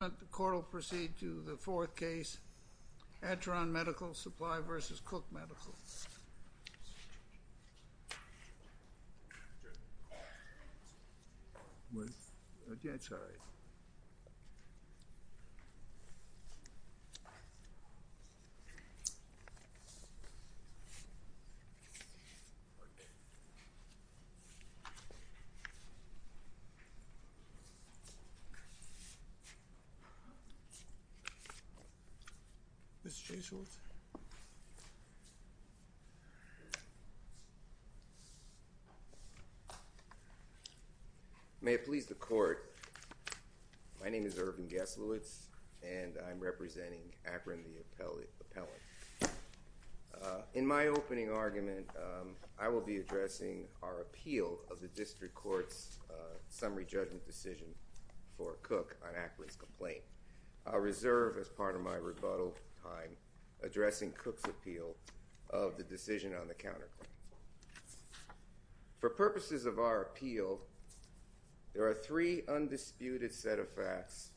The court will proceed to the fourth case, Acheron Medical Supply v. Cook Medical. May it please the court, my name is Ervin Geslowitz and I'm representing Acheron, the appellate. In my opening argument, I will be addressing our appeal of the district court's summary judgment decision for Cook on Acheron's complaint. I reserve, as part of my rebuttal time, addressing Cook's appeal of the decision on the counterclaim. For purposes of our appeal, there are three undisputed set of facts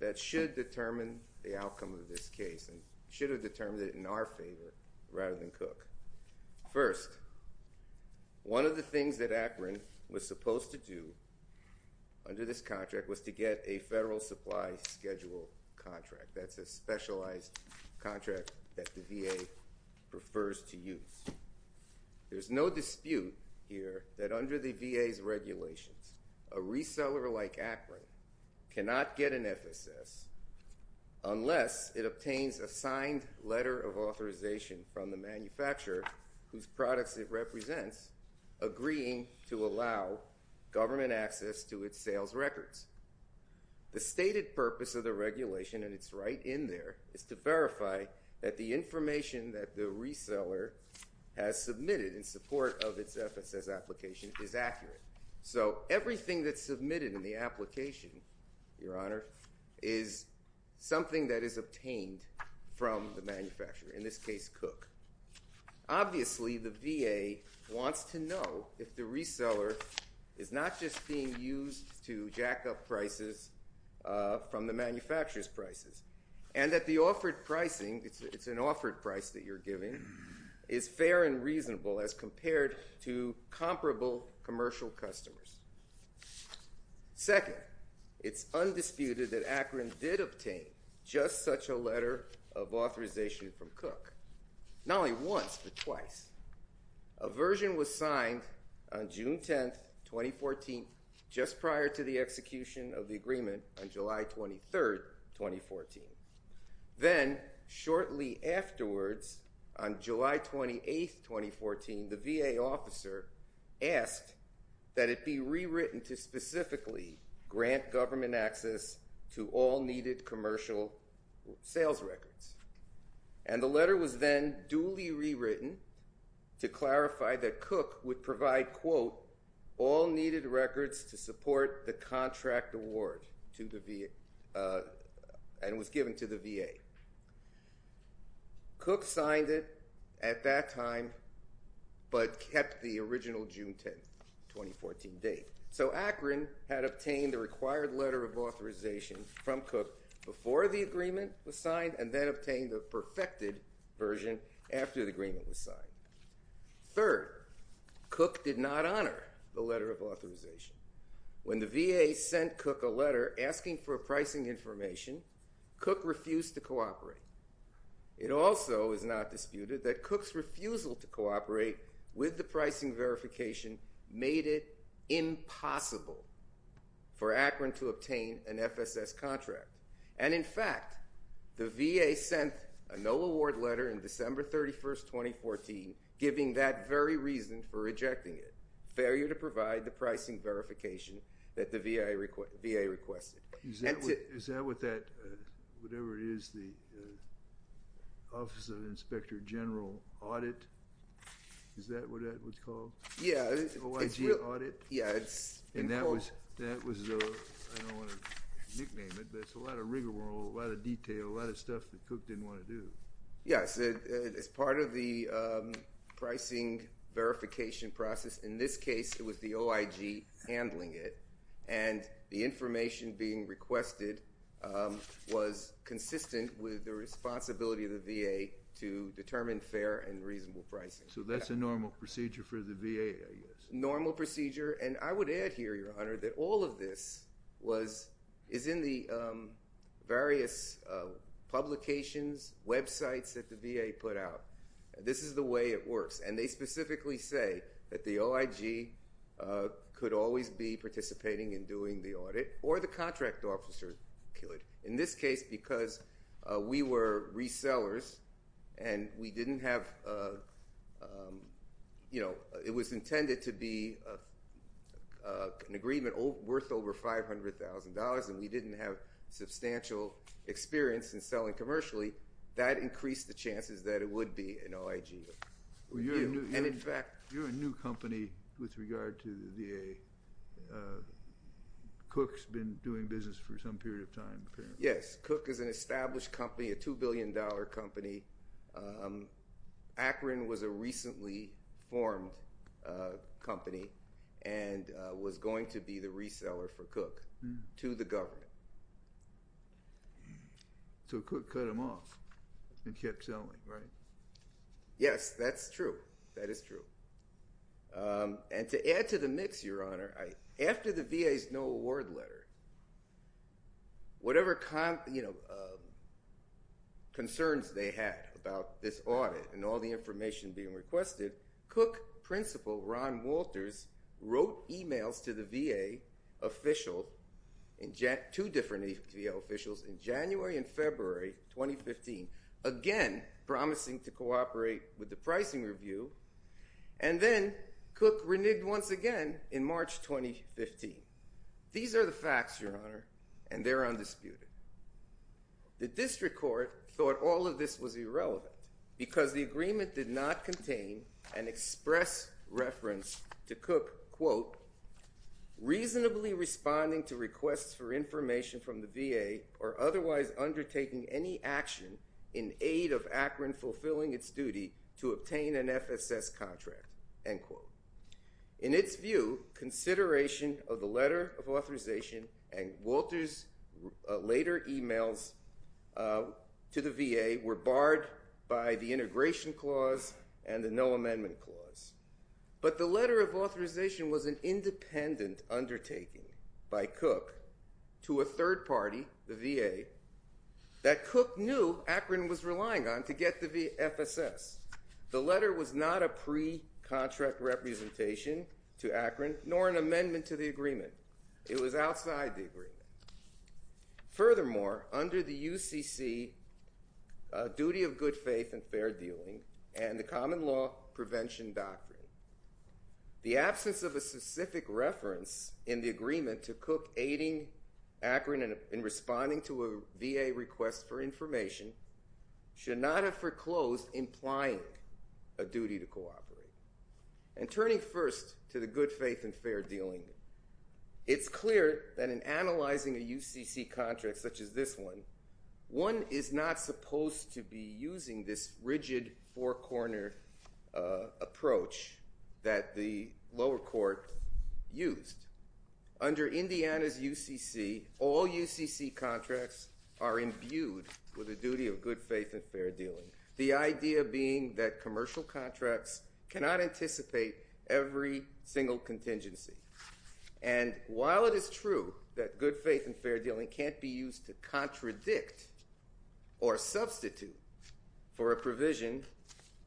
that should determine the outcome of this case and should have determined it in our favor rather than Cook. First, one of the things that Acheron was supposed to do under this contract was to get a federal supply schedule contract. That's a specialized contract that the VA prefers to use. There's no dispute here that under the VA's regulations, a reseller like Acheron cannot get an FSS unless it obtains a signed letter of authorization from the manufacturer whose products it represents agreeing to allow government access to its sales records. The stated purpose of the regulation, and it's right in there, is to verify that the information that the reseller has submitted in support of its FSS application is accurate. So everything that's submitted in the application, Your Honor, is something that is obtained from the manufacturer, in this case, Cook. Obviously, the VA wants to know if the reseller is not just being used to jack up prices from the manufacturer's prices and that the offered pricing, it's an offered price that you're Second, it's undisputed that Acheron did obtain just such a letter of authorization from Cook, not only once but twice. A version was signed on June 10th, 2014, just prior to the execution of the agreement on July 23rd, 2014. Then, shortly afterwards, on July 28th, 2014, the VA officer asked that it be rewritten to specifically grant government access to all needed commercial sales records. And the letter was then duly rewritten to clarify that Cook would provide, quote, and was given to the VA. Cook signed it at that time but kept the original June 10th, 2014, date. So Acheron had obtained the required letter of authorization from Cook before the agreement was signed and then obtained the perfected version after the agreement was signed. Third, Cook did not honor the letter of authorization. When the VA sent Cook a letter asking for pricing information, Cook refused to cooperate. It also is not disputed that Cook's refusal to cooperate with the pricing verification made it impossible for Acheron to obtain an FSS contract. And in fact, the VA sent a no award letter in December 31st, 2014, giving that very reason for rejecting it, failure to provide the pricing verification that the VA requested. Is that what that, whatever it is, the Office of Inspector General audit? Is that what that was called? Yeah. OIG audit? Yeah. And that was, I don't want to nickname it, but it's a lot of rigmarole, a lot of detail, a lot of stuff that Cook didn't want to do. Yes. It's part of the pricing verification process. In this case, it was the OIG handling it. And the information being requested was consistent with the responsibility of the VA to determine fair and reasonable pricing. So that's a normal procedure for the VA, I guess. Normal procedure. And I would add here, Your Honor, that all of this is in the various publications, websites that the VA put out. This is the way it works. And they specifically say that the OIG could always be participating in doing the audit or the contract officer could, in this case because we were resellers and we didn't have, you know, it was intended to be an agreement worth over $500,000 and we didn't have substantial experience in selling commercially, that increased the chances that it would be an OIG. You're a new company with regard to the VA. Cook's been doing business for some period of time. Yes. Cook is an established company, a $2 billion company. Akron was a recently formed company and was going to be the reseller for Cook to the government. So Cook cut him off and kept selling, right? Yes, that's true. That is true. And to add to the mix, Your Honor, after the VA's no award letter, whatever concerns they had about this audit and all the information being requested, Cook principal Ron Walters wrote emails to the VA official, two different VA officials in January and February 2015, again promising to cooperate with the pricing review, and then Cook reneged once again in March 2015. These are the facts, Your Honor, and they're undisputed. The district court thought all of this was irrelevant because the agreement did not contain an express reference to Cook, quote, reasonably responding to requests for information from the VA or otherwise undertaking any action in aid of Akron fulfilling its duty to obtain an FSS contract, end quote. In its view, consideration of the letter of authorization and Walters' later emails to the VA were barred by the integration clause and the no amendment clause. But the letter of authorization was an independent undertaking by Cook to a third party, the VA, that Cook knew Akron was relying on to get the FSS. The letter was not a pre-contract representation to Akron nor an amendment to the agreement. It was outside the agreement. Furthermore, under the UCC duty of good faith and fair dealing and the common law prevention doctrine, the absence of a specific reference in the agreement to Cook aiding Akron in responding to a VA request for information should not have foreclosed implying a duty to cooperate. And turning first to the good faith and fair dealing, it's clear that in analyzing a UCC contract such as this one, one is not supposed to be using this rigid four-corner approach that the lower court used. Under Indiana's UCC, all UCC contracts are imbued with a duty of good faith and fair dealing, the idea being that commercial contracts cannot anticipate every single contingency. And while it is true that good faith and fair dealing can't be used to contradict or substitute for a provision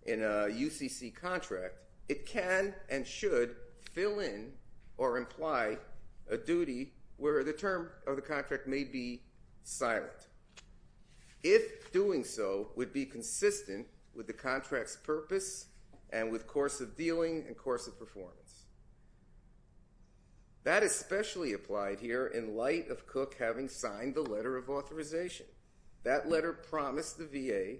in a UCC contract, it can and should fill in or imply a duty where the term of the contract may be silent. If doing so would be consistent with the contract's purpose and with course of dealing and course of performance. That especially applied here in light of Cook having signed the letter of authorization. That letter promised the VA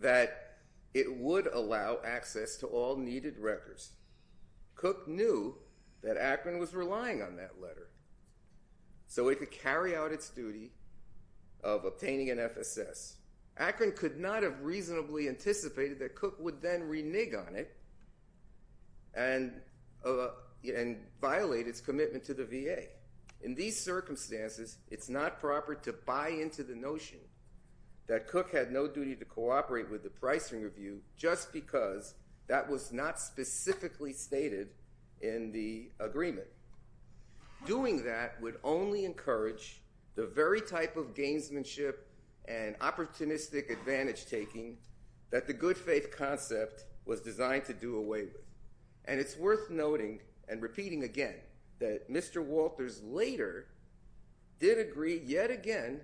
that it would allow access to all needed records. Cook knew that Akron was relying on that letter so it could carry out its duty of obtaining an FSS. Akron could not have reasonably anticipated that Cook would then renege on it and violate its commitment to the VA. In these circumstances, it's not proper to buy into the notion that Cook had no duty to cooperate with the Pricing Review just because that was not specifically stated in the agreement. Doing that would only encourage the very type of gamesmanship and opportunistic advantage taking that the good faith concept was designed to do away with. And it's worth noting and repeating again that Mr. Walters later did agree yet again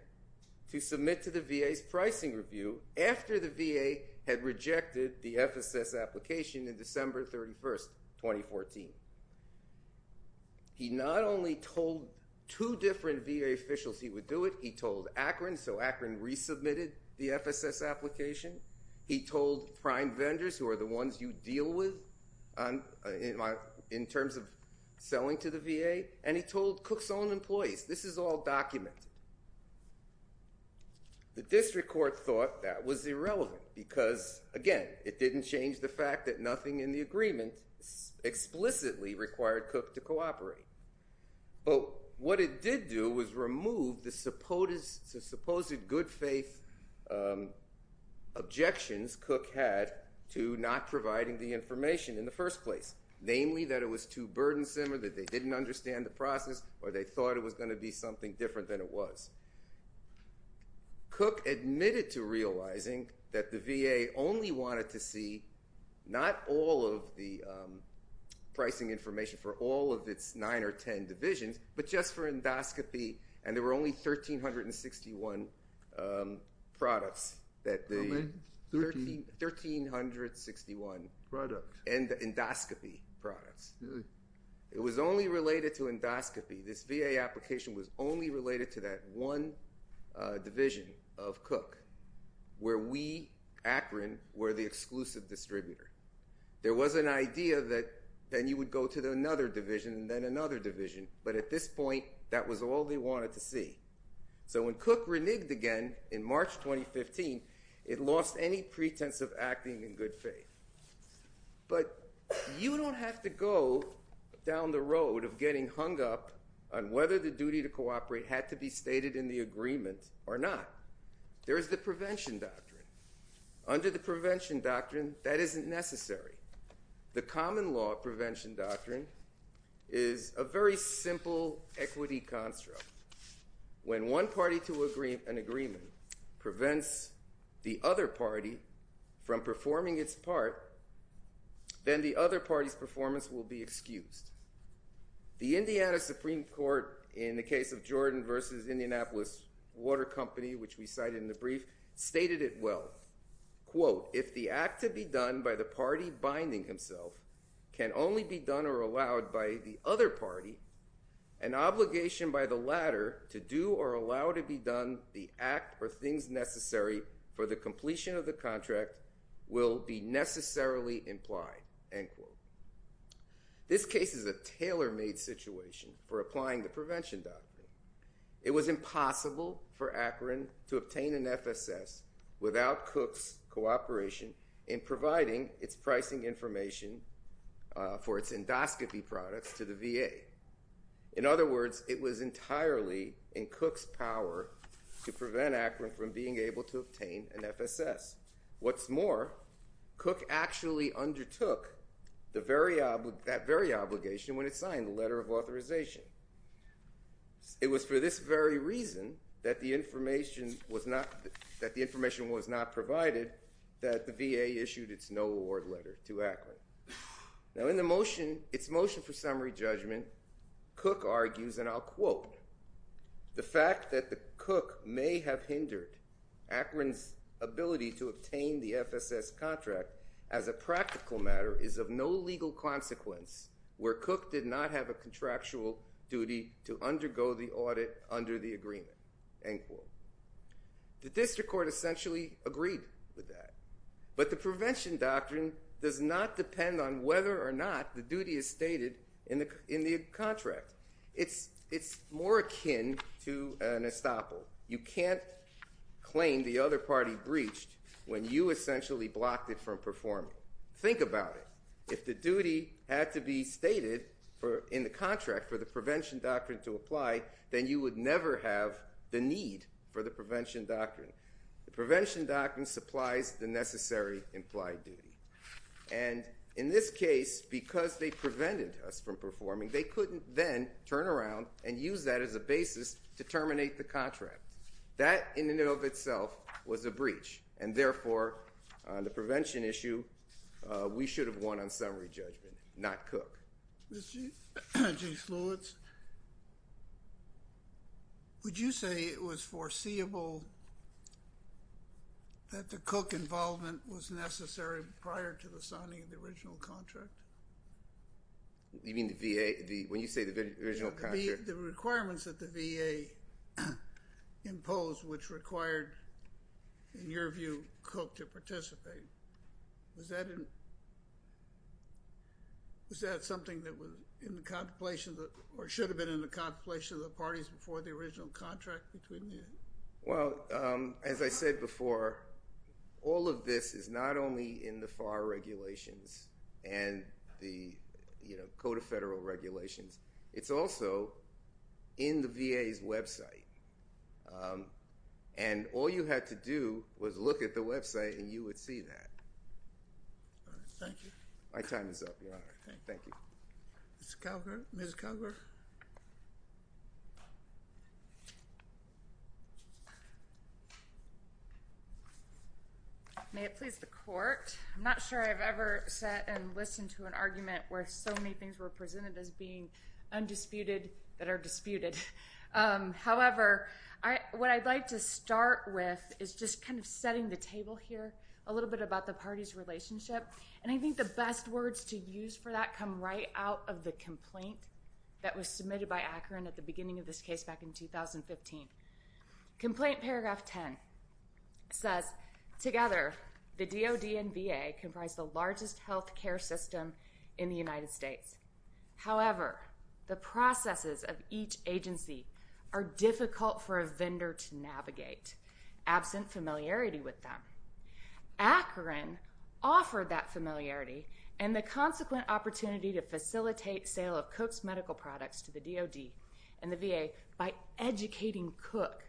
to submit to the VA's Pricing Review after the VA had rejected the FSS application in December 31, 2014. He not only told two different VA officials he would do it, he told Akron so Akron resubmitted the FSS application. He told prime vendors who are the ones you deal with in terms of selling to the VA, and he told Cook's own employees, this is all documented. The district court thought that was irrelevant because, again, it didn't change the fact that nothing in the agreement explicitly required Cook to cooperate. What it did do was remove the supposed good faith objections Cook had to not providing the information in the first place, namely that it was too burdensome or that they didn't understand the process or they thought it was going to be something different than it was. Cook admitted to realizing that the VA only wanted to see not all of the pricing information for all of its nine or ten divisions, but just for endoscopy, and there were only 1,361 products. How many? 1,361 endoscopy products. It was only related to endoscopy. This VA application was only related to that one division of Cook where we, Akron, were the exclusive distributor. There was an idea that then you would go to another division and then another division, but at this point that was all they wanted to see. So when Cook reneged again in March 2015, it lost any pretense of acting in good faith. But you don't have to go down the road of getting hung up on whether the duty to cooperate had to be stated in the agreement or not. There is the prevention doctrine. Under the prevention doctrine, that isn't necessary. The common law prevention doctrine is a very simple equity construct. When one party to an agreement prevents the other party from performing its part, then the other party's performance will be excused. The Indiana Supreme Court, in the case of Jordan v. Indianapolis Water Company, which we cited in the brief, stated it well. Quote, if the act to be done by the party binding himself can only be done or allowed by the other party, an obligation by the latter to do or allow to be done the act or things necessary for the completion of the contract will be necessarily implied. End quote. This case is a tailor-made situation for applying the prevention doctrine. It was impossible for Akron to obtain an FSS without Cooke's cooperation in providing its pricing information for its endoscopy products to the VA. In other words, it was entirely in Cooke's power to prevent Akron from being able to obtain an FSS. What's more, Cooke actually undertook that very obligation when it signed the letter of authorization. It was for this very reason that the information was not provided that the VA issued its no award letter to Akron. Now in its motion for summary judgment, Cooke argues, and I'll quote, the fact that Cooke may have hindered Akron's ability to obtain the FSS contract as a practical matter is of no legal consequence where Cooke did not have a contractual duty to undergo the audit under the agreement. End quote. The district court essentially agreed with that, but the prevention doctrine does not depend on whether or not the duty is stated in the contract. It's more akin to an estoppel. You can't claim the other party breached when you essentially blocked it from performing. Think about it. If the duty had to be stated in the contract for the prevention doctrine to apply, then you would never have the need for the prevention doctrine. The prevention doctrine supplies the necessary implied duty. And in this case, because they prevented us from performing, they couldn't then turn around and use that as a basis to terminate the contract. That in and of itself was a breach, and therefore on the prevention issue we should have won on summary judgment, not Cooke. Ms. Lewis, would you say it was foreseeable that the Cooke involvement was necessary prior to the signing of the original contract? You mean the VA? When you say the original contract? The requirements that the VA imposed, which required, in your view, Cooke to participate. Was that something that was in the contemplation or should have been in the contemplation of the parties before the original contract? Well, as I said before, all of this is not only in the FAR regulations and the Code of Federal Regulations. It's also in the VA's website. And all you had to do was look at the website and you would see that. Thank you. My time is up, Your Honor. Thank you. Ms. Calgar? Ms. Calgar? May it please the Court. I'm not sure I've ever sat and listened to an argument where so many things were presented as being undisputed that are disputed. However, what I'd like to start with is just kind of setting the table here a little bit about the parties' relationship. And I think the best words to use for that come right out of the complaint that was submitted by Akron at the beginning of this case back in 2015. Complaint paragraph 10 says, Together, the DOD and VA comprise the largest health care system in the United States. However, the processes of each agency are difficult for a vendor to navigate, absent familiarity with them. Akron offered that familiarity and the consequent opportunity to facilitate sale of Cooke's medical products to the DOD and the VA by educating Cooke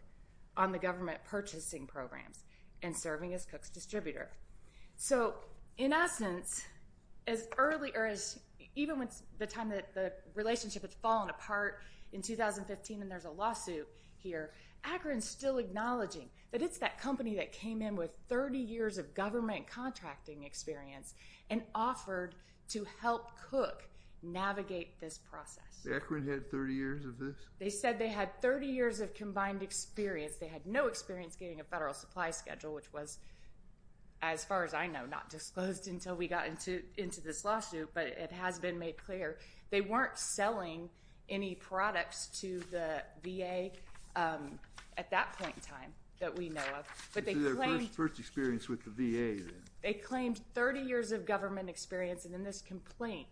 on the government purchasing programs and serving as Cooke's distributor. So, in essence, even when the relationship had fallen apart in 2015 and there's a lawsuit here, Akron's still acknowledging that it's that company that came in with 30 years of government contracting experience and offered to help Cooke navigate this process. Akron had 30 years of this? They said they had 30 years of combined experience. They had no experience getting a federal supply schedule, which was, as far as I know, not disclosed until we got into this lawsuit, but it has been made clear. They weren't selling any products to the VA at that point in time that we know of. This is their first experience with the VA then? They claimed 30 years of government experience, and in this complaint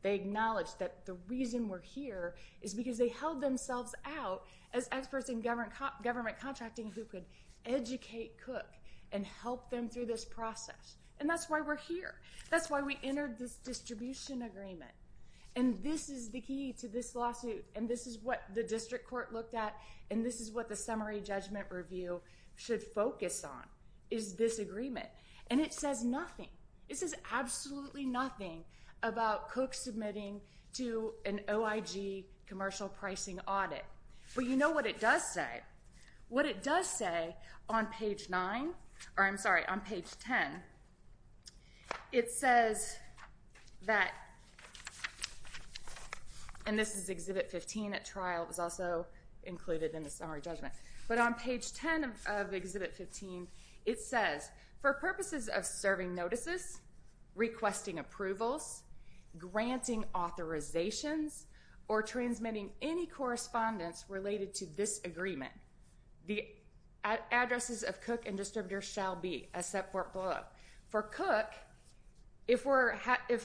they acknowledged that the reason we're here is because they held themselves out as experts in government contracting who could educate Cooke and help them through this process. And that's why we're here. That's why we entered this distribution agreement. And this is the key to this lawsuit, and this is what the district court looked at, and this is what the summary judgment review should focus on is this agreement. And it says nothing. It says absolutely nothing about Cooke submitting to an OIG commercial pricing audit. But you know what it does say. What it does say on page 9, or I'm sorry, on page 10, it says that, and this is Exhibit 15 at trial. It was also included in the summary judgment. But on page 10 of Exhibit 15, it says, for purposes of serving notices, requesting approvals, granting authorizations, or transmitting any correspondence related to this agreement, the addresses of Cooke and distributors shall be, except for Cooke. For Cooke, if we're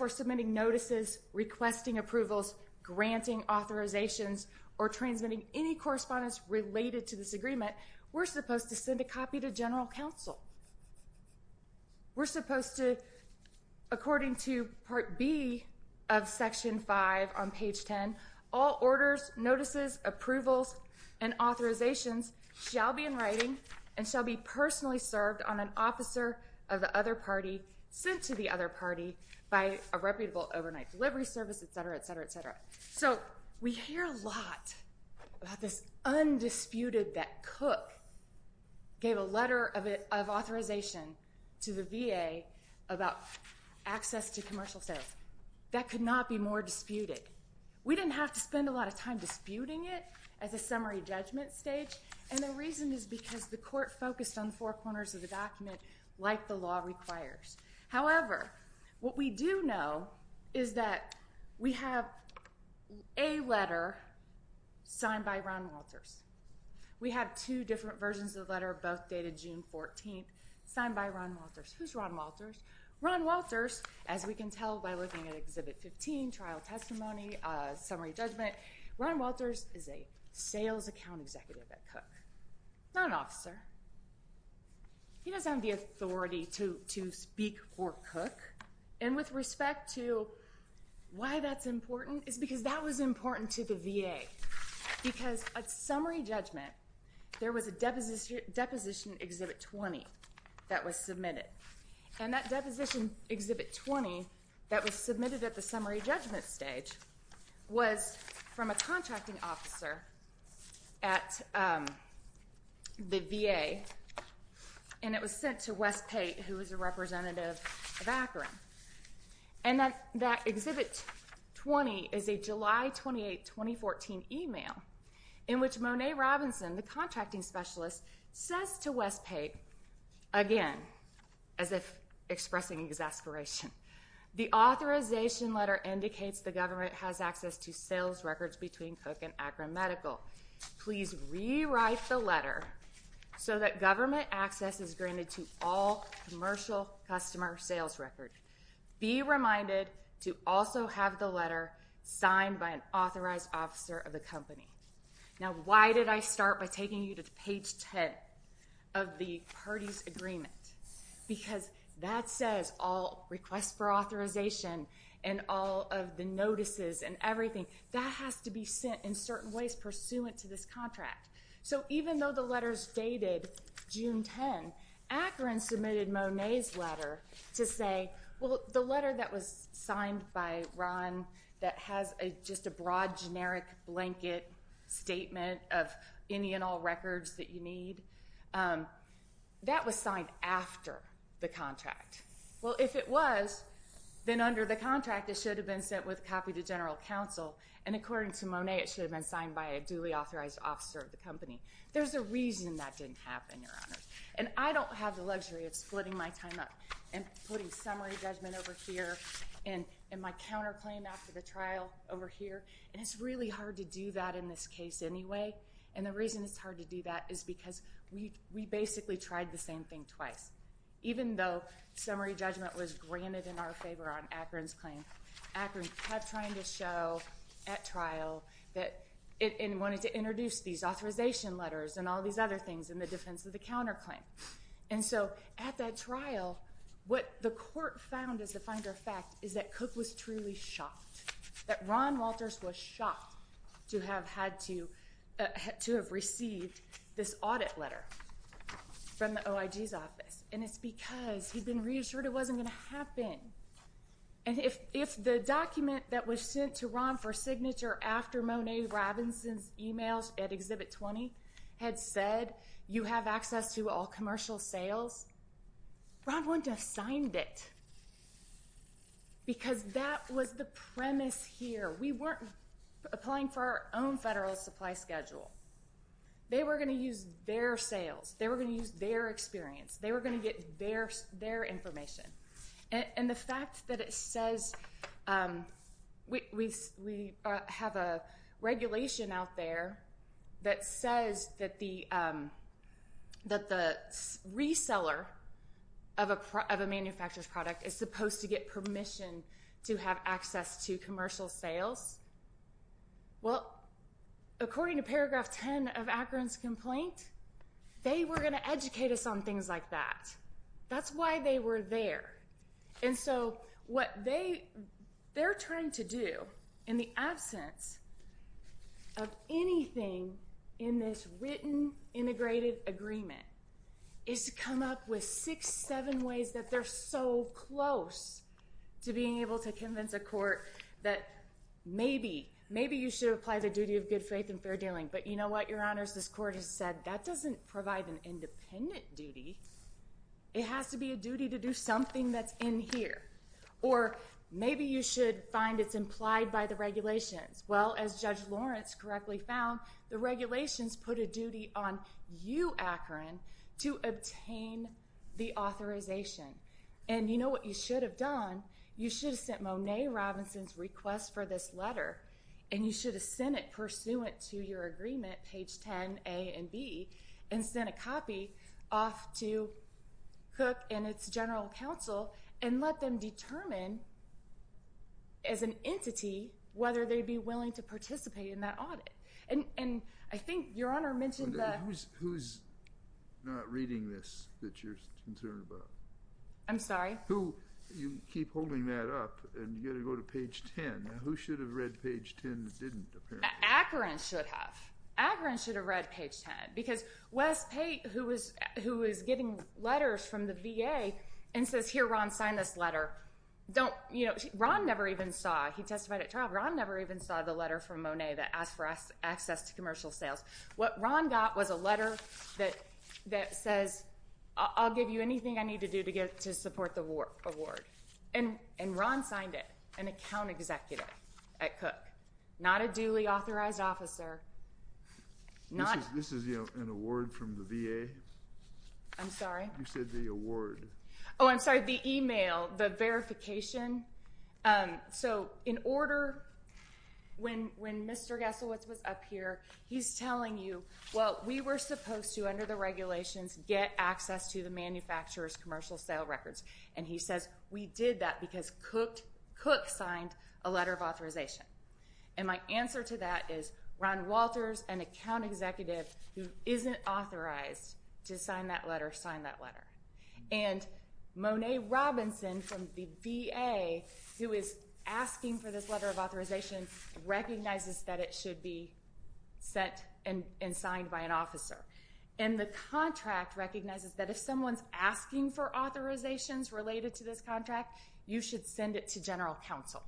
submitting notices, requesting approvals, granting authorizations, or transmitting any correspondence related to this agreement, we're supposed to send a copy to general counsel. We're supposed to, according to Part B of Section 5 on page 10, all orders, notices, approvals, and authorizations shall be in writing and shall be personally served on an officer of the other party sent to the other party by a reputable overnight delivery service, et cetera, et cetera, et cetera. So we hear a lot about this undisputed that Cooke gave a letter of authorization to the VA about access to commercial sales. That could not be more disputed. We didn't have to spend a lot of time disputing it as a summary judgment stage, and the reason is because the court focused on the four corners of the document like the law requires. However, what we do know is that we have a letter signed by Ron Walters. We have two different versions of the letter, both dated June 14th, signed by Ron Walters. Who's Ron Walters? Ron Walters, as we can tell by looking at Exhibit 15, trial testimony, summary judgment, Ron Walters is a sales account executive at Cooke, not an officer. He doesn't have the authority to speak for Cooke, and with respect to why that's important is because that was important to the VA because at summary judgment there was a Deposition Exhibit 20 that was submitted, and that Deposition Exhibit 20 that was submitted at the summary judgment stage was from a contracting officer at the VA, and it was sent to Wes Pate, who was a representative of Akron. And that Exhibit 20 is a July 28, 2014 email in which Monet Robinson, the contracting specialist, says to Wes Pate again, as if expressing exasperation, the authorization letter indicates the government has access to sales records between Cooke and Akron Medical. Please rewrite the letter so that government access is granted to all commercial customer sales records. Be reminded to also have the letter signed by an authorized officer of the company. Now, why did I start by taking you to page 10 of the parties agreement? Because that says all requests for authorization and all of the notices and everything, that has to be sent in certain ways pursuant to this contract. So even though the letters dated June 10, Akron submitted Monet's letter to say, well, the letter that was signed by Ron that has just a broad generic blanket statement of any and all records that you need, that was signed after the contract. Well, if it was, then under the contract it should have been sent with a copy to general counsel, and according to Monet it should have been signed by a duly authorized officer of the company. There's a reason that didn't happen, Your Honors. And I don't have the luxury of splitting my time up and putting summary judgment over here and my counterclaim after the trial over here, and it's really hard to do that in this case anyway. And the reason it's hard to do that is because we basically tried the same thing twice. Even though summary judgment was granted in our favor on Akron's claim, Akron kept trying to show at trial that it wanted to introduce these authorization letters and all these other things in the defense of the counterclaim. And so at that trial, what the court found as a finder of fact is that Cook was truly shocked, that Ron Walters was shocked to have received this audit letter from the OIG's office, and it's because he'd been reassured it wasn't going to happen. And if the document that was sent to Ron for signature after Monet Robinson's emails at Exhibit 20 had said you have access to all commercial sales, Ron wouldn't have signed it because that was the premise here. We weren't applying for our own federal supply schedule. They were going to use their sales. They were going to use their experience. They were going to get their information. And the fact that it says we have a regulation out there that says that the reseller of a manufacturer's product is supposed to get permission to have access to commercial sales, well, according to paragraph 10 of Akron's complaint, they were going to educate us on things like that. That's why they were there. And so what they're trying to do in the absence of anything in this written integrated agreement is to come up with six, seven ways that they're so close to being able to convince a court that maybe, maybe you should apply the duty of good faith and fair dealing. But you know what, Your Honors, this court has said that doesn't provide an independent duty. It has to be a duty to do something that's in here. Or maybe you should find it's implied by the regulations. Well, as Judge Lawrence correctly found, the regulations put a duty on you, Akron, to obtain the authorization. And you know what you should have done? You should have sent Monet Robinson's request for this letter, and you should have sent it pursuant to your agreement, page 10A and B, and sent a copy off to Cook and its general counsel and let them determine as an entity whether they'd be willing to participate in that audit. And I think Your Honor mentioned that. Who's not reading this that you're concerned about? I'm sorry? You keep holding that up, and you've got to go to page 10. Who should have read page 10 that didn't, apparently? Akron should have. Akron should have read page 10. Because Wes Pate, who was getting letters from the VA and says, here, Ron, sign this letter. Don't, you know, Ron never even saw. He testified at trial. Ron never even saw the letter from Monet that asked for access to commercial sales. What Ron got was a letter that says, I'll give you anything I need to do to support the award. And Ron signed it, an account executive at Cook. Not a duly authorized officer. This is, you know, an award from the VA. I'm sorry? You said the award. Oh, I'm sorry, the e-mail, the verification. So in order, when Mr. Gasowitz was up here, he's telling you, well, we were supposed to, under the regulations, get access to the manufacturer's commercial sale records. And he says, we did that because Cook signed a letter of authorization. And my answer to that is, Ron Walters, an account executive, who isn't authorized to sign that letter, signed that letter. And Monet Robinson from the VA, who is asking for this letter of authorization, recognizes that it should be sent and signed by an officer. And the contract recognizes that if someone's asking for authorizations related to this contract, you should send it to general counsel.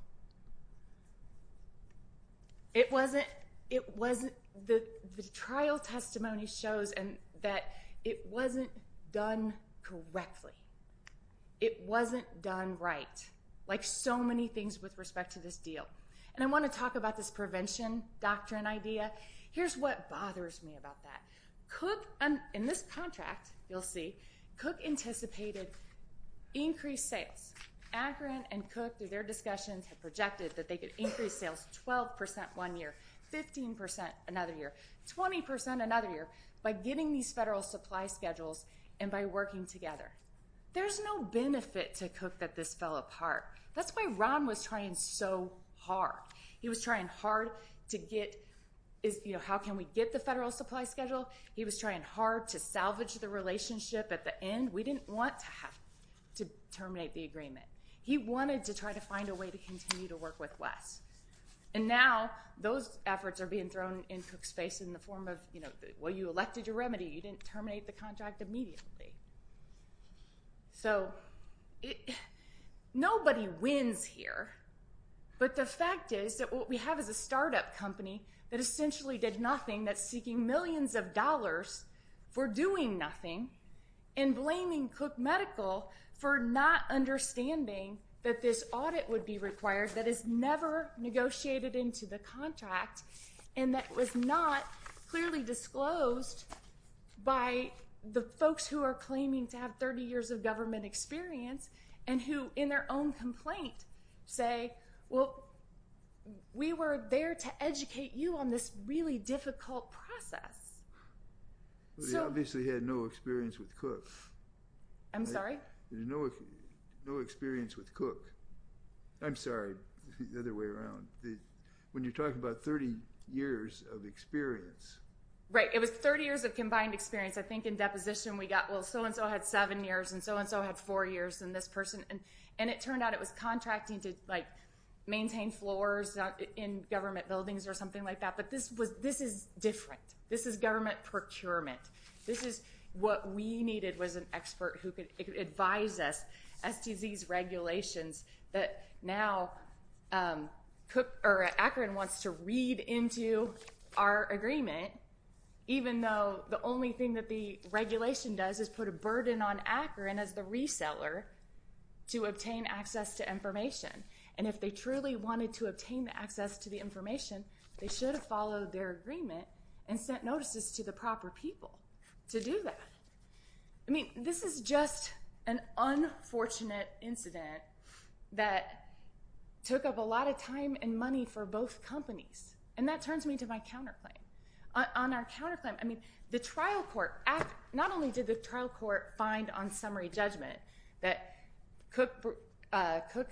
It wasn't, it wasn't, the trial testimony shows that it wasn't done correctly. It wasn't done right. Like so many things with respect to this deal. And I want to talk about this prevention doctrine idea. Here's what bothers me about that. Cook, in this contract, you'll see, Cook anticipated increased sales. Akron and Cook, through their discussions, had projected that they could increase sales 12% one year, 15% another year, 20% another year by getting these federal supply schedules and by working together. There's no benefit to Cook that this fell apart. That's why Ron was trying so hard. He was trying hard to get, you know, how can we get the federal supply schedule? He was trying hard to salvage the relationship at the end. We didn't want to terminate the agreement. He wanted to try to find a way to continue to work with Wes. And now those efforts are being thrown in Cook's face in the form of, you know, well, you elected your remedy. You didn't terminate the contract immediately. So nobody wins here. But the fact is that what we have is a startup company that essentially did nothing, that's seeking millions of dollars for doing nothing and blaming Cook Medical for not understanding that this audit would be required, that it's never negotiated into the contract, and that it was not clearly disclosed by the folks who are claiming to have 30 years of government experience and who in their own complaint say, well, we were there to educate you on this really difficult process. They obviously had no experience with Cook. I'm sorry? No experience with Cook. I'm sorry, the other way around. When you're talking about 30 years of experience. Right. It was 30 years of combined experience. I think in deposition we got, well, so-and-so had seven years and so-and-so had four years and this person. And it turned out it was contracting to, like, maintain floors in government buildings or something like that. But this is different. This is government procurement. This is what we needed was an expert who could advise us, STZ's regulations that now Cook or Akron wants to read into our agreement, even though the only thing that the regulation does is put a burden on Akron as the reseller to obtain access to information. And if they truly wanted to obtain access to the information, they should have followed their agreement and sent notices to the proper people to do that. I mean, this is just an unfortunate incident that took up a lot of time and money for both companies. And that turns me to my counterclaim. On our counterclaim, I mean, the trial court, not only did the trial court find on summary judgment that Cook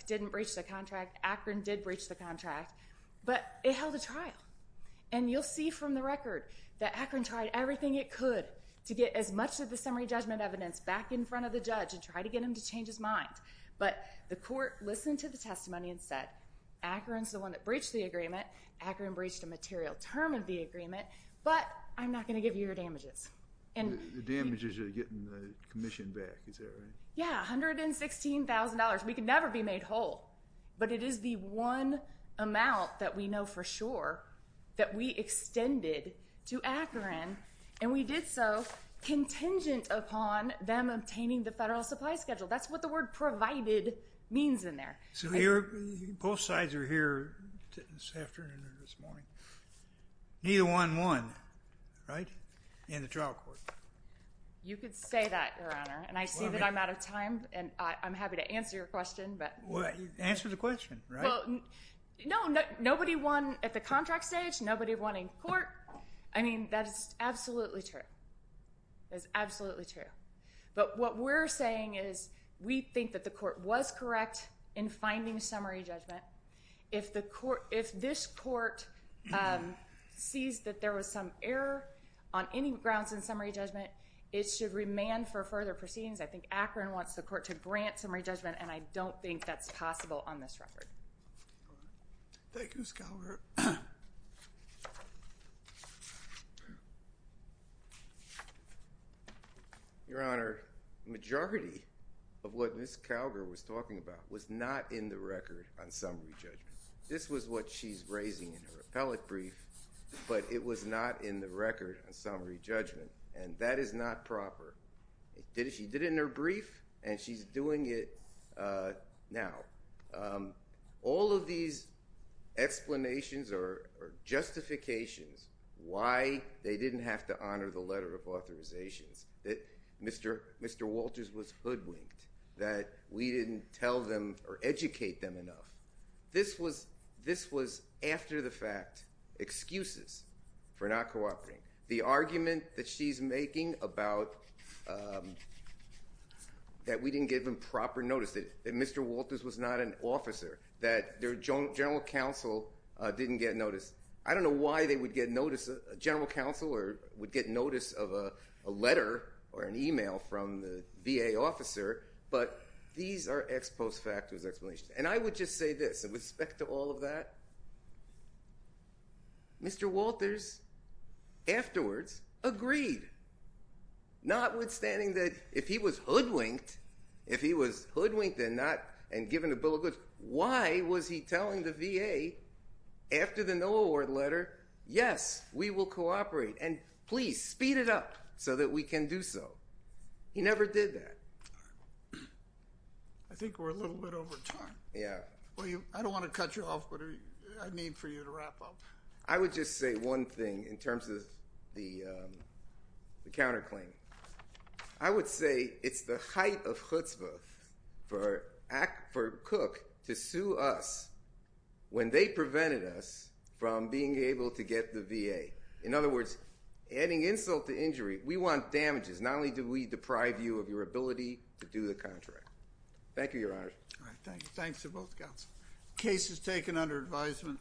didn't breach the contract, Akron did breach the contract, but it held a trial. And you'll see from the record that Akron tried everything it could to get as much of the summary judgment evidence back in front of the judge and try to get him to change his mind. But the court listened to the testimony and said, Akron's the one that breached the agreement, Akron breached a material term of the agreement, but I'm not going to give you your damages. The damages are getting the commission back, is that right? Yeah, $116,000. We could never be made whole. But it is the one amount that we know for sure that we extended to Akron, and we did so contingent upon them obtaining the federal supply schedule. That's what the word provided means in there. So both sides are here this afternoon or this morning. Neither one won, right, in the trial court. You could say that, Your Honor. And I see that I'm out of time, and I'm happy to answer your question. Well, answer the question, right? No, nobody won at the contract stage, nobody won in court. I mean, that is absolutely true. That is absolutely true. But what we're saying is we think that the court was correct in finding summary judgment. If this court sees that there was some error on any grounds in summary judgment, it should remand for further proceedings. I think Akron wants the court to grant summary judgment, and I don't think that's possible on this record. Thank you, Ms. Calgar. Your Honor, the majority of what Ms. Calgar was talking about was not in the record on summary judgment. This was what she's raising in her appellate brief, but it was not in the record on summary judgment, and that is not proper. She did it in her brief, and she's doing it now. All of these explanations or justifications why they didn't have to honor the letter of authorizations, that Mr. Walters was hoodwinked, that we didn't tell them or educate them enough, this was after the fact excuses for not cooperating. The argument that she's making about that we didn't give them proper notice, that Mr. Walters was not an officer, that their general counsel didn't get notice. I don't know why they would get notice, a general counsel would get notice of a letter or an e-mail from the VA officer, but these are ex post facto explanations, and I would just say this. With respect to all of that, Mr. Walters afterwards agreed. Notwithstanding that if he was hoodwinked, if he was hoodwinked and given a bill of goods, why was he telling the VA after the no award letter, yes, we will cooperate, and please speed it up so that we can do so. He never did that. I think we're a little bit over time. Yeah. I don't want to cut you off, but I need for you to wrap up. I would just say one thing in terms of the counterclaim. I would say it's the height of chutzpah for Cook to sue us when they prevented us from being able to get the VA. In other words, adding insult to injury, we want damages. Not only do we deprive you of your ability to do the contract. Thank you, Your Honor. All right. Thanks to both counsels. Case is taken under advisement.